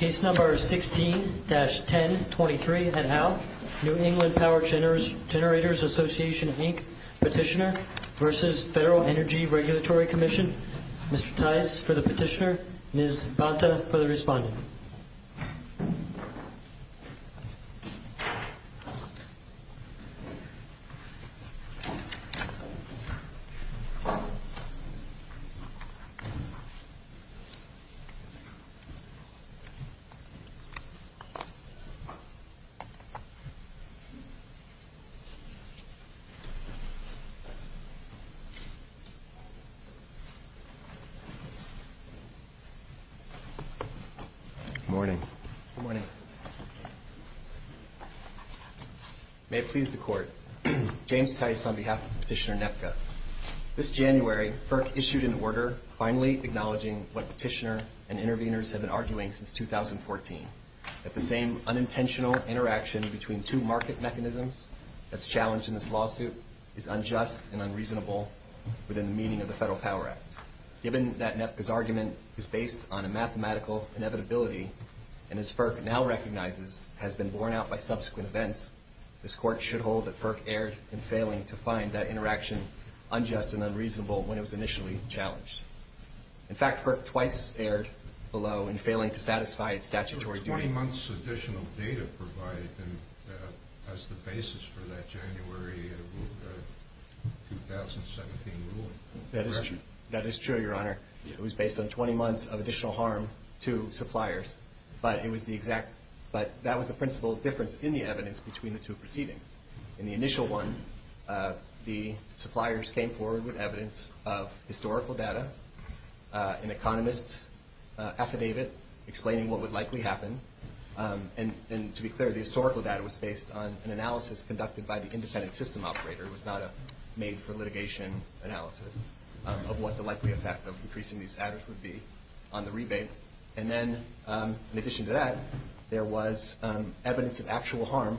16-1023 New England Power Generators Association, Inc. petitioner v. Federal Energy Regulatory Commission, Mr. Tice for the petitioner, Ms. Bonta for the respondent. Mr. Tice, on behalf of Petitioner NEPCA, this January, FERC issued an order finally acknowledging what petitioner and intervenors have been arguing since 2014, that the same unintentional interaction between two market mechanisms that's challenged in this lawsuit is unjust and unreasonable within the meaning of the Federal Power Act. Given that NEPCA's argument is based on a mathematical inevitability, and as FERC now recognizes, has been borne out by subsequent events, this Court should hold that FERC erred in failing to find that interaction unjust and unreasonable when it was initially challenged. In fact, FERC twice erred below in failing to satisfy its statutory duty. The 20-months additional data provided as the basis for that January 2017 ruling. That is true, Your Honor. It was based on 20 months of additional harm to suppliers, but that was the principal difference in the evidence between the two proceedings. In the initial one, the suppliers came forward with evidence of historical data, an economist affidavit explaining what would likely happen. And to be clear, the historical data was based on an analysis conducted by the independent system operator. It was not a made-for-litigation analysis of what the likely effect of increasing these adders would be on the rebate. And then, in addition to that, there was evidence of actual harm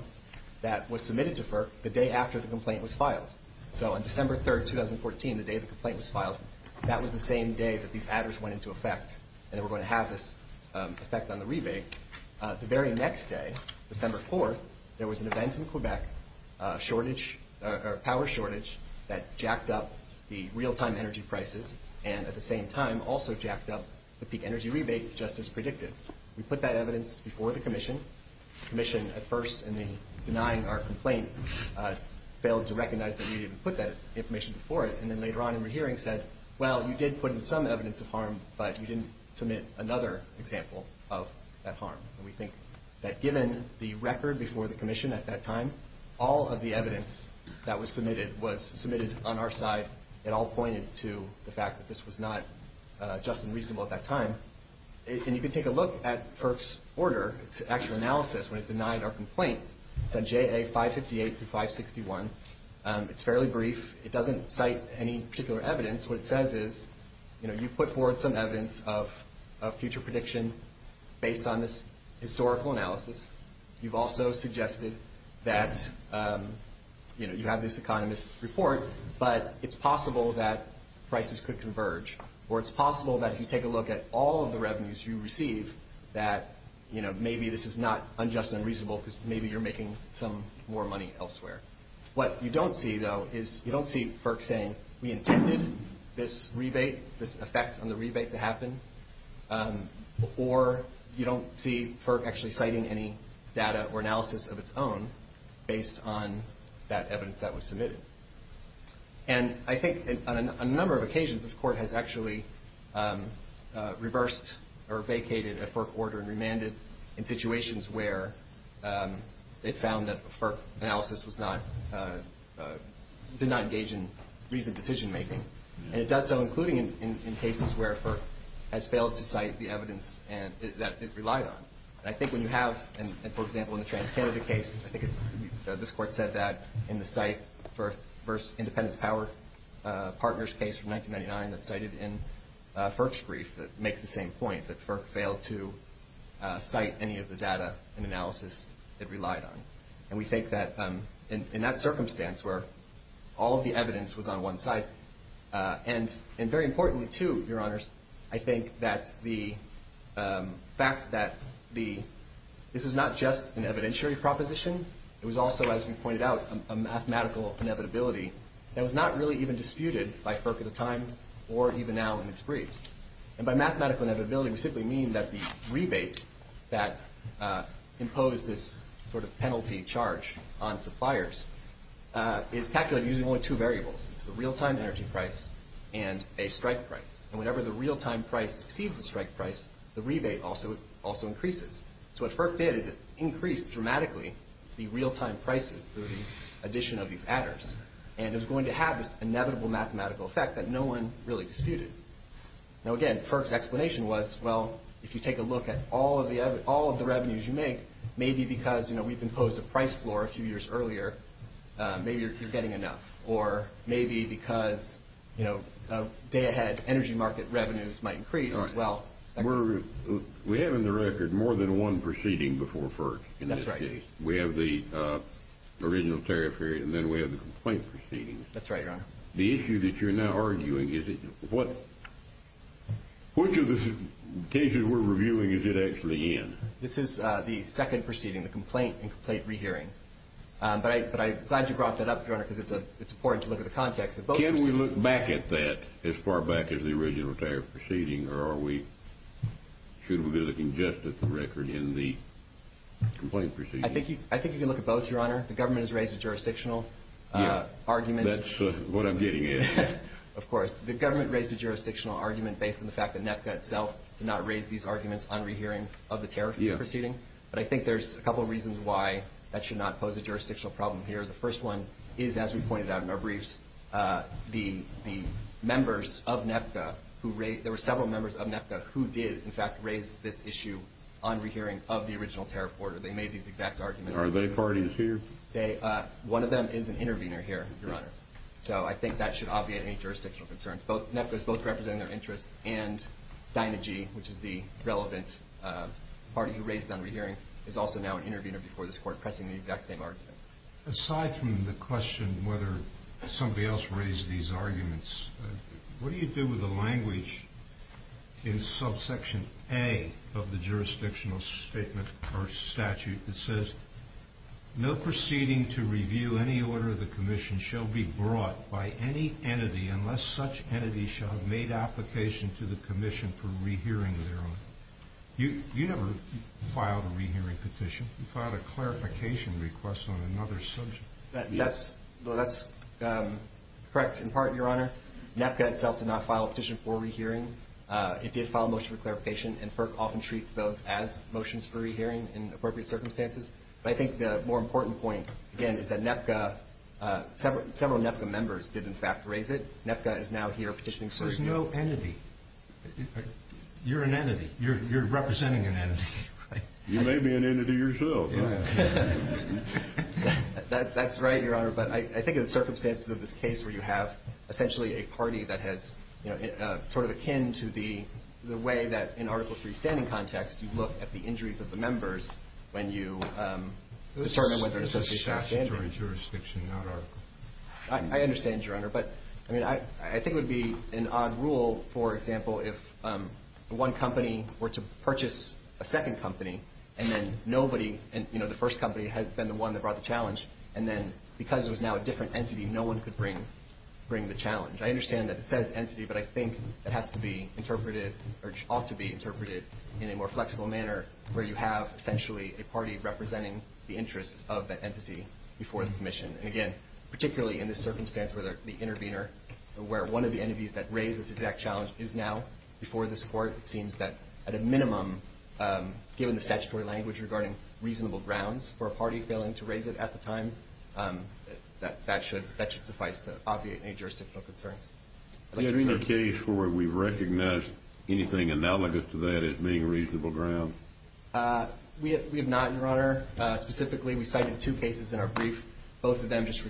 that was submitted to FERC the day after the complaint was filed. So on December 3rd, 2014, the day the complaint was filed, that was the same day that these adders went into effect and were going to have this effect on the rebate. The very next day, December 4th, there was an event in Quebec, a power shortage that jacked up the real-time energy prices and, at the same time, also jacked up the peak energy rebate, just as predicted. We put that evidence before the Commission. The Commission, at first, in denying our complaint, failed to recognize that we didn't put that information before it. And then, later on in the hearing, said, well, we did put in some evidence of harm, but we didn't submit another example of that harm. And we think that, given the record before the Commission at that time, all of the evidence that was submitted was submitted on our side. It all pointed to the fact that this was not just and reasonable at that time. And you can take a look at FERC's order, its actual analysis, when it denied our complaint. It's on JA 558 through 561. It's fairly brief. It doesn't cite any particular evidence. What it says is, you know, you've put forward some evidence of future prediction based on this historical analysis. You've also suggested that, you know, you have this economist's report, but it's possible that prices could converge. Or it's possible that, if you take a look at all of the revenues you receive, that, you know, maybe this is not unjust and unreasonable because maybe you're making some money elsewhere. What you don't see, though, is you don't see FERC saying, we intended this rebate, this effect on the rebate to happen. Or you don't see FERC actually citing any data or analysis of its own based on that evidence that was submitted. And I think on a number of occasions, this Court has actually reversed or vacated a FERC order and remanded in situations where it found that FERC analysis did not engage in reasoned decision making. And it does so, including in cases where FERC has failed to cite the evidence that it relied on. And I think when you have, for example, in the Trans-Canada case, I think it's, this Court said that in the cite FERC versus Independence Power Partners case from 1999 that's cited in FERC's brief that makes the point that FERC failed to cite any of the data and analysis it relied on. And we think that in that circumstance where all of the evidence was on one side, and very importantly, too, Your Honors, I think that the fact that this is not just an evidentiary proposition, it was also, as we pointed out, a mathematical inevitability that was not really even disputed by FERC at the time or even now in its briefs. And by mathematical inevitability, we simply mean that the rebate that imposed this sort of penalty charge on suppliers is calculated using only two variables. It's the real-time energy price and a strike price. And whenever the real-time price exceeds the strike price, the rebate also increases. So what FERC did is it increased dramatically the real-time prices through the addition of these adders. And it was going to have this inevitable mathematical effect that no one really disputed. Now, again, FERC's explanation was, well, if you take a look at all of the revenues you make, maybe because, you know, we've imposed a price floor a few years earlier, maybe you're getting enough. Or maybe because, you know, day-ahead energy market revenues might increase, well... We have in the record more than one proceeding before FERC. That's right. We have the original tariff period, and then we have the complaint proceedings. That's right, Your Honor. The issue that you're now arguing, is it... Which of the cases we're reviewing is it actually in? This is the second proceeding, the complaint and complaint rehearing. But I'm glad you brought that up, Your Honor, because it's important to look at the context. Can we look back at that as far back as the original tariff proceeding, or should we be looking just at the record in the complaint proceedings? I think you can look at both, Your Honor. The government has raised a jurisdictional argument. That's what I'm getting at. Of course. The government raised a jurisdictional argument based on the fact that NEPCA itself did not raise these arguments on rehearing of the tariff proceeding. But I think there's a couple of reasons why that should not pose a jurisdictional problem here. The first one is, as we pointed out in our briefs, the members of NEPCA who raised... There were several members of NEPCA who did, in fact, raise this issue on rehearing of the original tariff order. They made these exact arguments. Are they parties here? One of them is an intervener here, Your Honor. So I think that should obviate any jurisdictional concerns. NEPCA is both representing their interests, and Dynagy, which is the relevant party who raised on rehearing, is also now an intervener before this Court, pressing the exact same arguments. Aside from the question whether somebody else raised these arguments, what do you do with the language in subsection A of the jurisdictional statement or statute that says, no proceeding to review any order of the Commission shall be brought by any entity unless such entity shall have made application to the Commission for rehearing thereof? You never filed a rehearing petition. You filed a clarification request on another subject. That's correct, in part, Your Honor. NEPCA itself did not file a petition for rehearing. It did file a motion for clarification, and FERC often treats those as motions for rehearing in appropriate circumstances. But I think the more important point, again, is that NEPCA, several NEPCA members did, in fact, raise it. NEPCA is now here petitioning... So there's no entity. You're an entity. You're representing an entity. You may be an entity yourself. That's right, Your Honor. But I think in the circumstances of this case where you have essentially a party that has sort of akin to the way that in Article III standing context, you look at the injuries of the members when you discern whether an association is standing. This is statutory jurisdiction, not Article III. I understand, Your Honor. But I mean, I think it would be an odd rule, for example, if one company were to purchase a second company, and then nobody, you know, the first company had been the one that brought the challenge. And then because it was now a different entity, no one could bring the challenge. I understand that it says entity, but I think it has to be interpreted or ought to be interpreted in a more flexible manner where you have essentially a party representing the interests of that entity before the commission. And again, particularly in this circumstance where the intervener, where one of the entities that raised this exact challenge is before this court, it seems that at a minimum, given the statutory language regarding reasonable grounds for a party failing to raise it at the time, that should suffice to obviate any jurisdictional concerns. Is there any case where we've recognized anything analogous to that as being reasonable grounds? We have not, Your Honor. Specifically, we cited two cases in our brief. Both of them just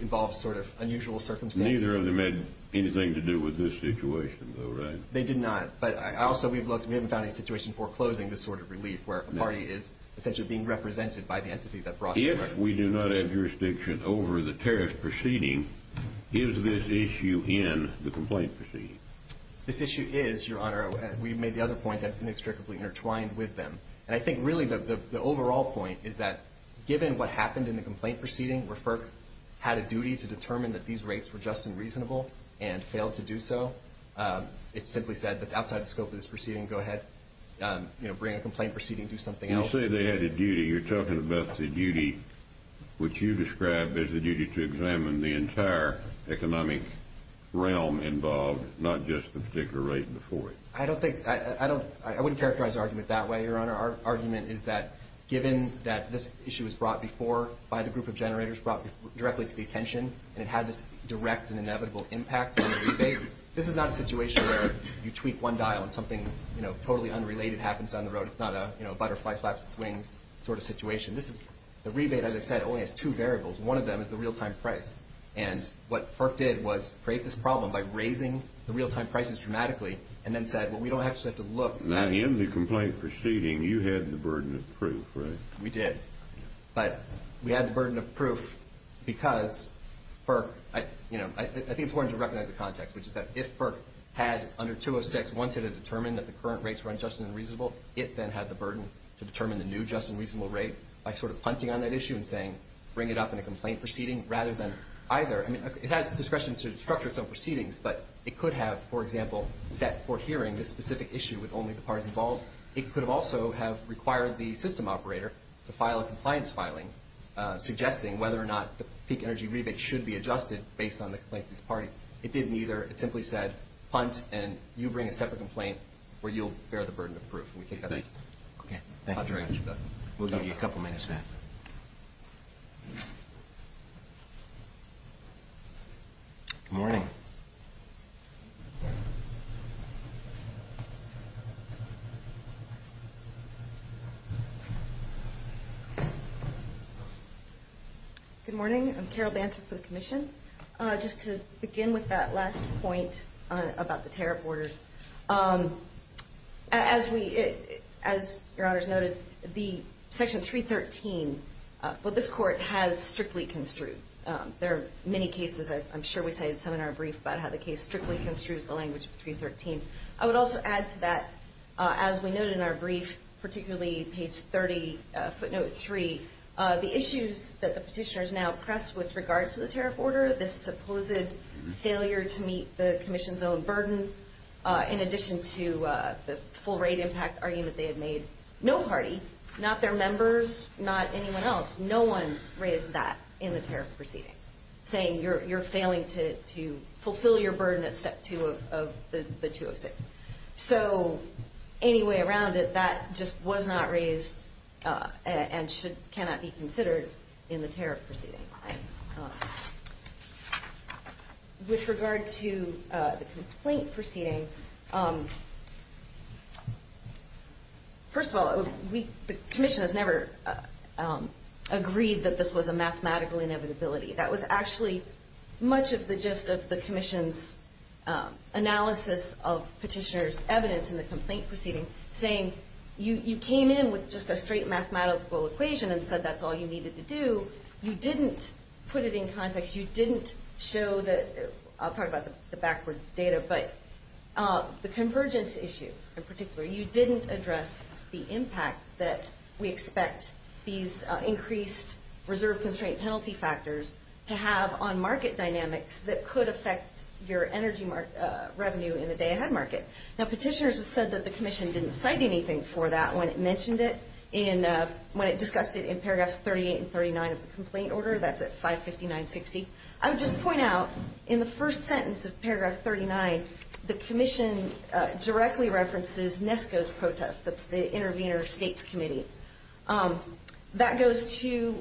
involve sort of unusual circumstances. Neither of them had anything to do with this situation, though, right? They did not. But also we've looked, we haven't found any situation foreclosing this sort of relief where a party is essentially being represented by the entity that brought it. If we do not have jurisdiction over the tariff proceeding, is this issue in the complaint proceeding? This issue is, Your Honor. We've made the other point that's inextricably intertwined with them. And I think really the overall point is that given what happened in the complaint proceeding where FERC had a duty to determine that these rates were just and reasonable and failed to do so, it simply said that's outside the scope of this proceeding, go ahead, you know, bring a complaint proceeding, do something else. You say they had a duty. You're talking about the duty which you describe as the duty to examine the entire economic realm involved, not just the particular rate before it. I don't think, I don't, I wouldn't characterize the argument that way, Your Honor. Our issue was brought before by the group of generators, brought directly to the attention, and it had this direct and inevitable impact on the rebate. This is not a situation where you tweak one dial and something, you know, totally unrelated happens down the road. It's not a, you know, butterfly flaps its wings sort of situation. This is, the rebate, as I said, only has two variables. One of them is the real-time price. And what FERC did was create this problem by raising the real-time prices dramatically and then said, well, we don't actually have to look. Now in the complaint proceeding, you had the burden of proof, right? We did. But we had the burden of proof because FERC, you know, I think it's important to recognize the context, which is that if FERC had under 206 wanted to determine that the current rates were unjust and unreasonable, it then had the burden to determine the new just and reasonable rate by sort of punting on that issue and saying, bring it up in a complaint proceeding rather than either. I mean, it has discretion to structure its own proceedings, but it could have, for example, set for hearing this specific issue with only the parties involved. It could have also have required the system operator to file a compliance filing suggesting whether or not the peak energy rebate should be adjusted based on the complaints of these parties. It didn't either. It simply said, punt and you bring a separate complaint where you'll bear the burden of proof. And we think that's... Okay. Thank you very much. We'll give you a couple minutes, Matt. Good morning. Good morning. I'm Carol Banter for the commission. Just to begin with that last point about the tariff orders. As we, as your honors noted, the section 313, what this court has strictly construed. There are many cases, I'm sure we cited some in our brief about how the case strictly construes the language of 313. I would also add to that, as we noted in our brief, particularly page 30, footnote three, the issues that the petitioners now press with regards to the tariff order, this supposed failure to meet the commission's own burden, in addition to the full rate impact argument they had made. No party, not their members, not anyone else, no one raised that in the tariff proceeding, saying you're failing to step two of the 206. So any way around it, that just was not raised and cannot be considered in the tariff proceeding. With regard to the complaint proceeding, first of all, the commission has never agreed that this was a mathematical inevitability. That was actually much of the gist of the commission's analysis of petitioner's evidence in the complaint proceeding, saying you came in with just a straight mathematical equation and said that's all you needed to do. You didn't put it in context. You didn't show the, I'll talk about the backward data, but the convergence issue in particular. You didn't address the impact that we expect these increased reserve constraint penalty factors to have on market dynamics that could affect your energy revenue in the day ahead market. Now petitioners have said that the commission didn't cite anything for that when it mentioned it in, when it discussed it in paragraphs 38 and 39 of the complaint order, that's at 559.60. I would just point out in the first sentence of paragraph 39, the commission directly references NESCO's protest, that's the intervener states committee. That goes to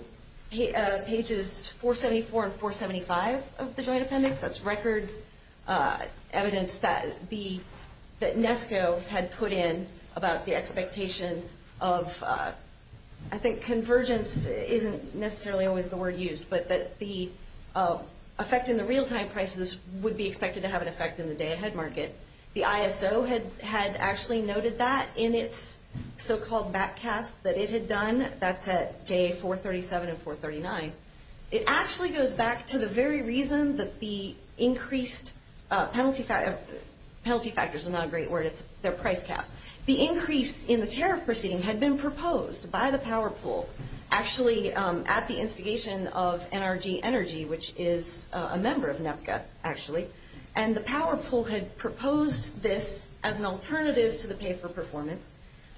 pages 474 and 475 of the joint appendix. That's record evidence that NESCO had put in about the expectation of, I think convergence isn't necessarily always the word used, but that the effect in the real time prices would be expected to have an effect in the day ahead market. The ISO had actually noted that in its so-called back cast that it had done, that's at day 437 and 439. It actually goes back to the very reason that the increased penalty factors, penalty factors is not a great word, it's their price caps. The increase in the tariff proceeding had been proposed by the power pool actually at the instigation of NRG Energy, which is a member of NEPCA actually. And the power pool had proposed this as an alternative to the pay for performance.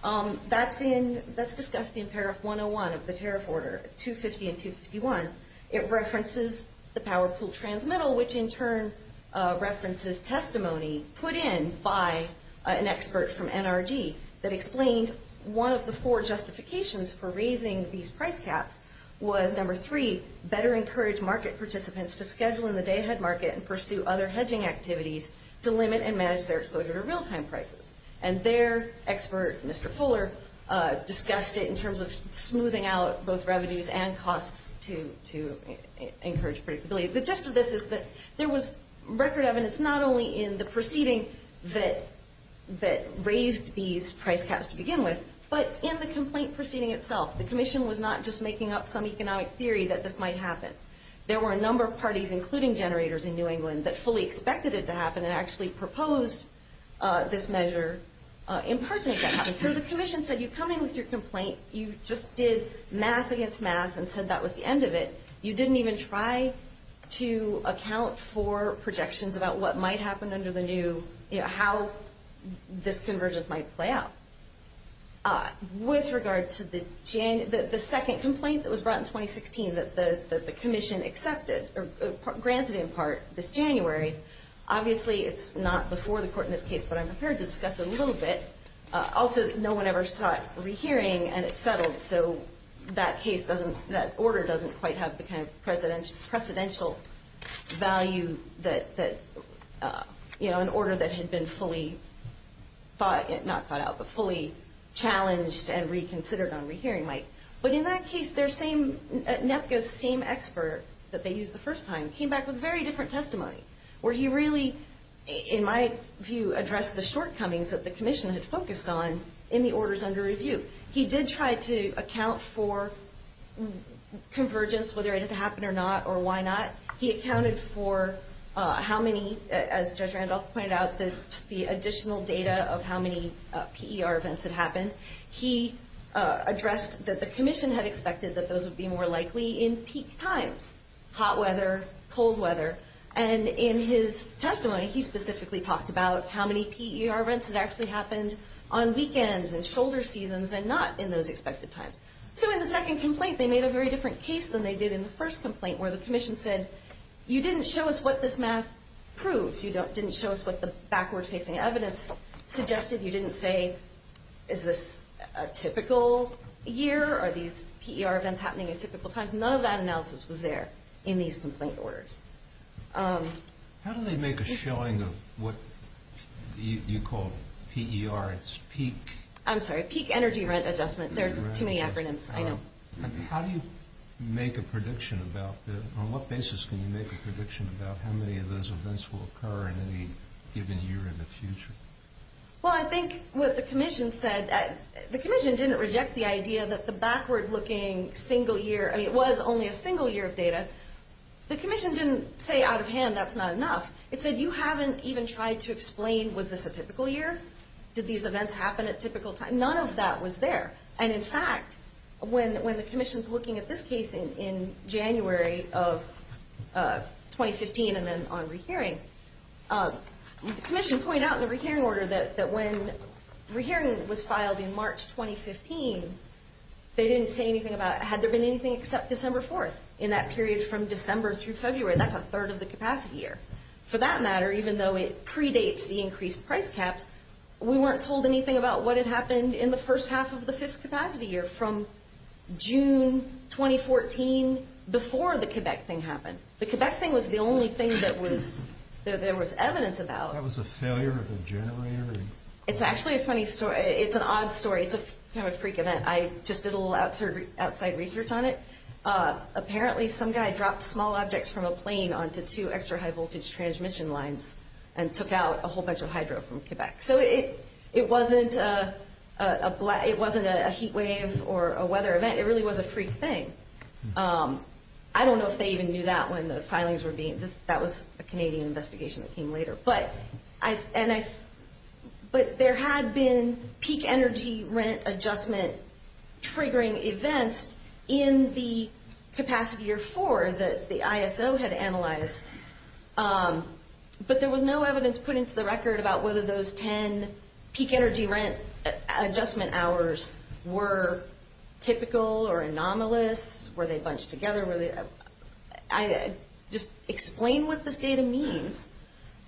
That's in, that's discussed in paragraph 101 of the tariff order, 250 and 251. It references the power pool transmittal, which in turn references testimony put in by an expert from NRG that explained one of the four justifications for raising these price caps was number three, better encourage market participants to schedule in the day ahead market and pursue other hedging activities to limit and manage their exposure to real time prices. And their expert, Mr. Fuller, discussed it in terms of smoothing out both revenues and costs to encourage predictability. The gist of this is that there was record evidence, not only in the proceeding that raised these price caps to begin with, but in the complaint proceeding itself. The commission was not just in economic theory that this might happen. There were a number of parties, including generators in New England, that fully expected it to happen and actually proposed this measure in part to make that happen. So the commission said, you come in with your complaint, you just did math against math and said that was the end of it. You didn't even try to account for projections about what might happen under the new, you know, how this convergence might play out. With regard to the second complaint that was brought in 2016 that the commission granted in part this January, obviously it's not before the court in this case, but I'm prepared to discuss it a little bit. Also, no one ever sought rehearing and it settled. So that case doesn't, that order doesn't quite have the kind of precedential value that, you know, an order that had been fully thought, not thought out, but fully challenged and reconsidered on rehearing might. But in that case, their same, NEPCA's same expert that they used the first time, came back with very different testimony where he really, in my view, addressed the shortcomings that the commission had focused on in the orders under review. He did try to account for convergence, whether it had to happen or not of how many PER events had happened. He addressed that the commission had expected that those would be more likely in peak times, hot weather, cold weather. And in his testimony, he specifically talked about how many PER events had actually happened on weekends and shoulder seasons and not in those expected times. So in the second complaint, they made a very different case than they did in the first complaint where the commission said, you didn't show us what this math proves. You didn't show us what the backward facing evidence suggested. You didn't say, is this a typical year? Are these PER events happening at typical times? None of that analysis was there in these complaint orders. How do they make a showing of what you call PER, it's peak? I'm sorry, peak energy rent adjustment. There are too many acronyms, I know. How do you make a prediction about that? On what basis can you make a prediction about how many of those events will occur in any given year in the future? Well, I think what the commission said, the commission didn't reject the idea that the backward looking single year, I mean, it was only a single year of data. The commission didn't say out of hand, that's not enough. It said, you haven't even tried to explain, was this a typical year? Did these events happen at typical times? None of that was there. And in fact, when the commission's looking at this case in January of 2015, and then on re-hearing, the commission pointed out in the re-hearing order that when re-hearing was filed in March 2015, they didn't say anything about, had there been anything except December 4th, in that period from December through February, that's a third of the capacity year. For that matter, even though it predates the increased price caps, we weren't told anything about what had happened in the first half of the capacity year from June 2014, before the Quebec thing happened. The Quebec thing was the only thing that was, there was evidence about. That was a failure of a generator? It's actually a funny story. It's an odd story. It's a kind of freak event. I just did a little outside research on it. Apparently, some guy dropped small objects from a plane onto two extra high voltage transmission lines and took out a whole bunch of hydro from Quebec. So it wasn't a heat wave or a weather event. It really was a freak thing. I don't know if they even knew that when the filings were being, that was a Canadian investigation that came later. But there had been peak energy rent adjustment triggering events in the capacity year four that the ISO had analyzed. But there was no evidence put into the record about whether those 10 peak energy rent adjustment hours were typical or anomalous. Were they bunched together? Just explain what this data means.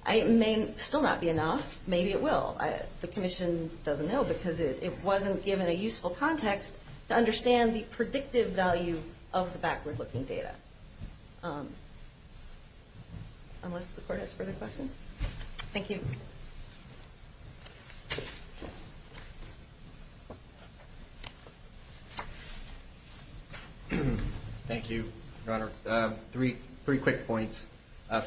It may still not be enough. Maybe it will. The commission doesn't know because it wasn't given a useful context to understand the predictive value of the backward looking data. Unless the court has further questions. Thank you. Thank you, Your Honor. Three quick points.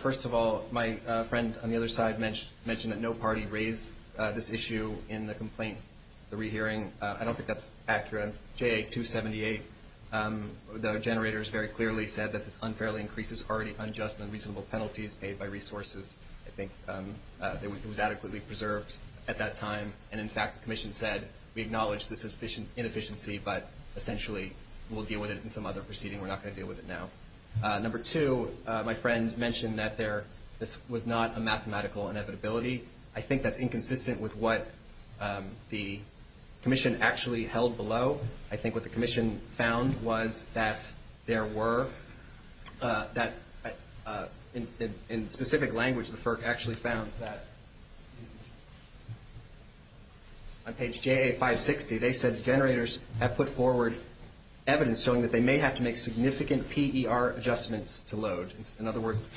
First of all, my friend on the other side mentioned that no party raised this issue in the complaint, the rehearing. I don't think that's accurate. JA-278, the generators very clearly said that this unfairly increases already unjust and reasonable penalties paid by resources. I think it was adequately preserved at that time. And in fact, the commission said, we acknowledge this inefficiency, but essentially, we'll deal with it in some other proceeding. We're not going to deal with it now. Number two, my friend mentioned that this was not a mathematical inevitability. I think that's inconsistent with what the commission actually held below. I think what the commission found was that there were, in specific language, the FERC actually found that on page JA-560, they said generators have put forward evidence showing that they may have to significant PER adjustments to load. In other words,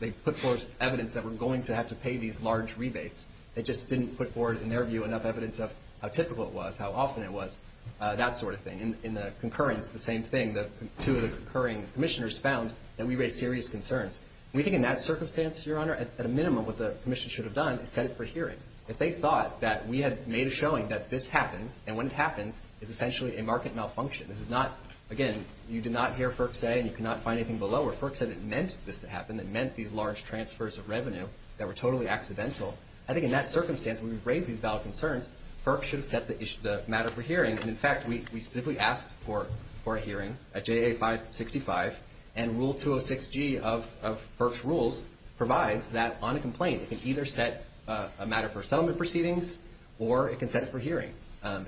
they put forward evidence that we're going to have to pay these large rebates. They just didn't put forward, in their view, enough evidence of how typical it was, how often it was, that sort of thing. In the concurrence, the same thing, that two of the concurring commissioners found that we raised serious concerns. We think in that circumstance, Your Honor, at a minimum, what the commission should have done is set it for hearing. If they thought that we had made a showing that this happens, and when it happens, it's essentially a market malfunction. This is not, again, you did not hear FERC say, and you cannot find anything below, where FERC said it meant this to happen. It meant these large transfers of revenue that were totally accidental. I think in that circumstance, when we've raised these valid concerns, FERC should have set the matter for hearing. In fact, we specifically asked for a hearing at JA-565, and Rule 206G of FERC's rules provides that, on a complaint, it can either set a matter for settlement proceedings, or it can set it for hearing,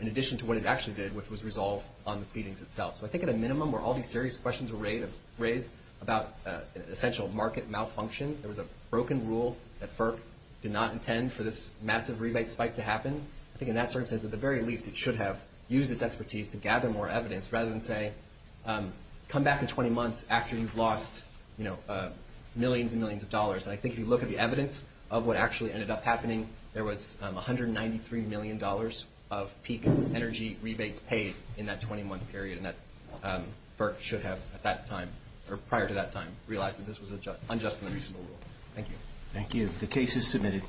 in addition to what it actually did, which was resolve on the pleadings itself. So I think at a minimum, where all these serious questions were raised about an essential market malfunction, there was a broken rule that FERC did not intend for this massive rebate spike to happen. I think in that circumstance, at the very least, it should have used its expertise to gather more evidence, rather than say, come back in 20 months after you've lost millions and millions of dollars. And I think if you look at the evidence of what actually ended up happening, there was $193 million of peak energy rebates paid in that 20-month period, and FERC should have, at that time, or prior to that time, realized that this was unjust and unreasonable rule. Thank you. Thank you. The case is submitted.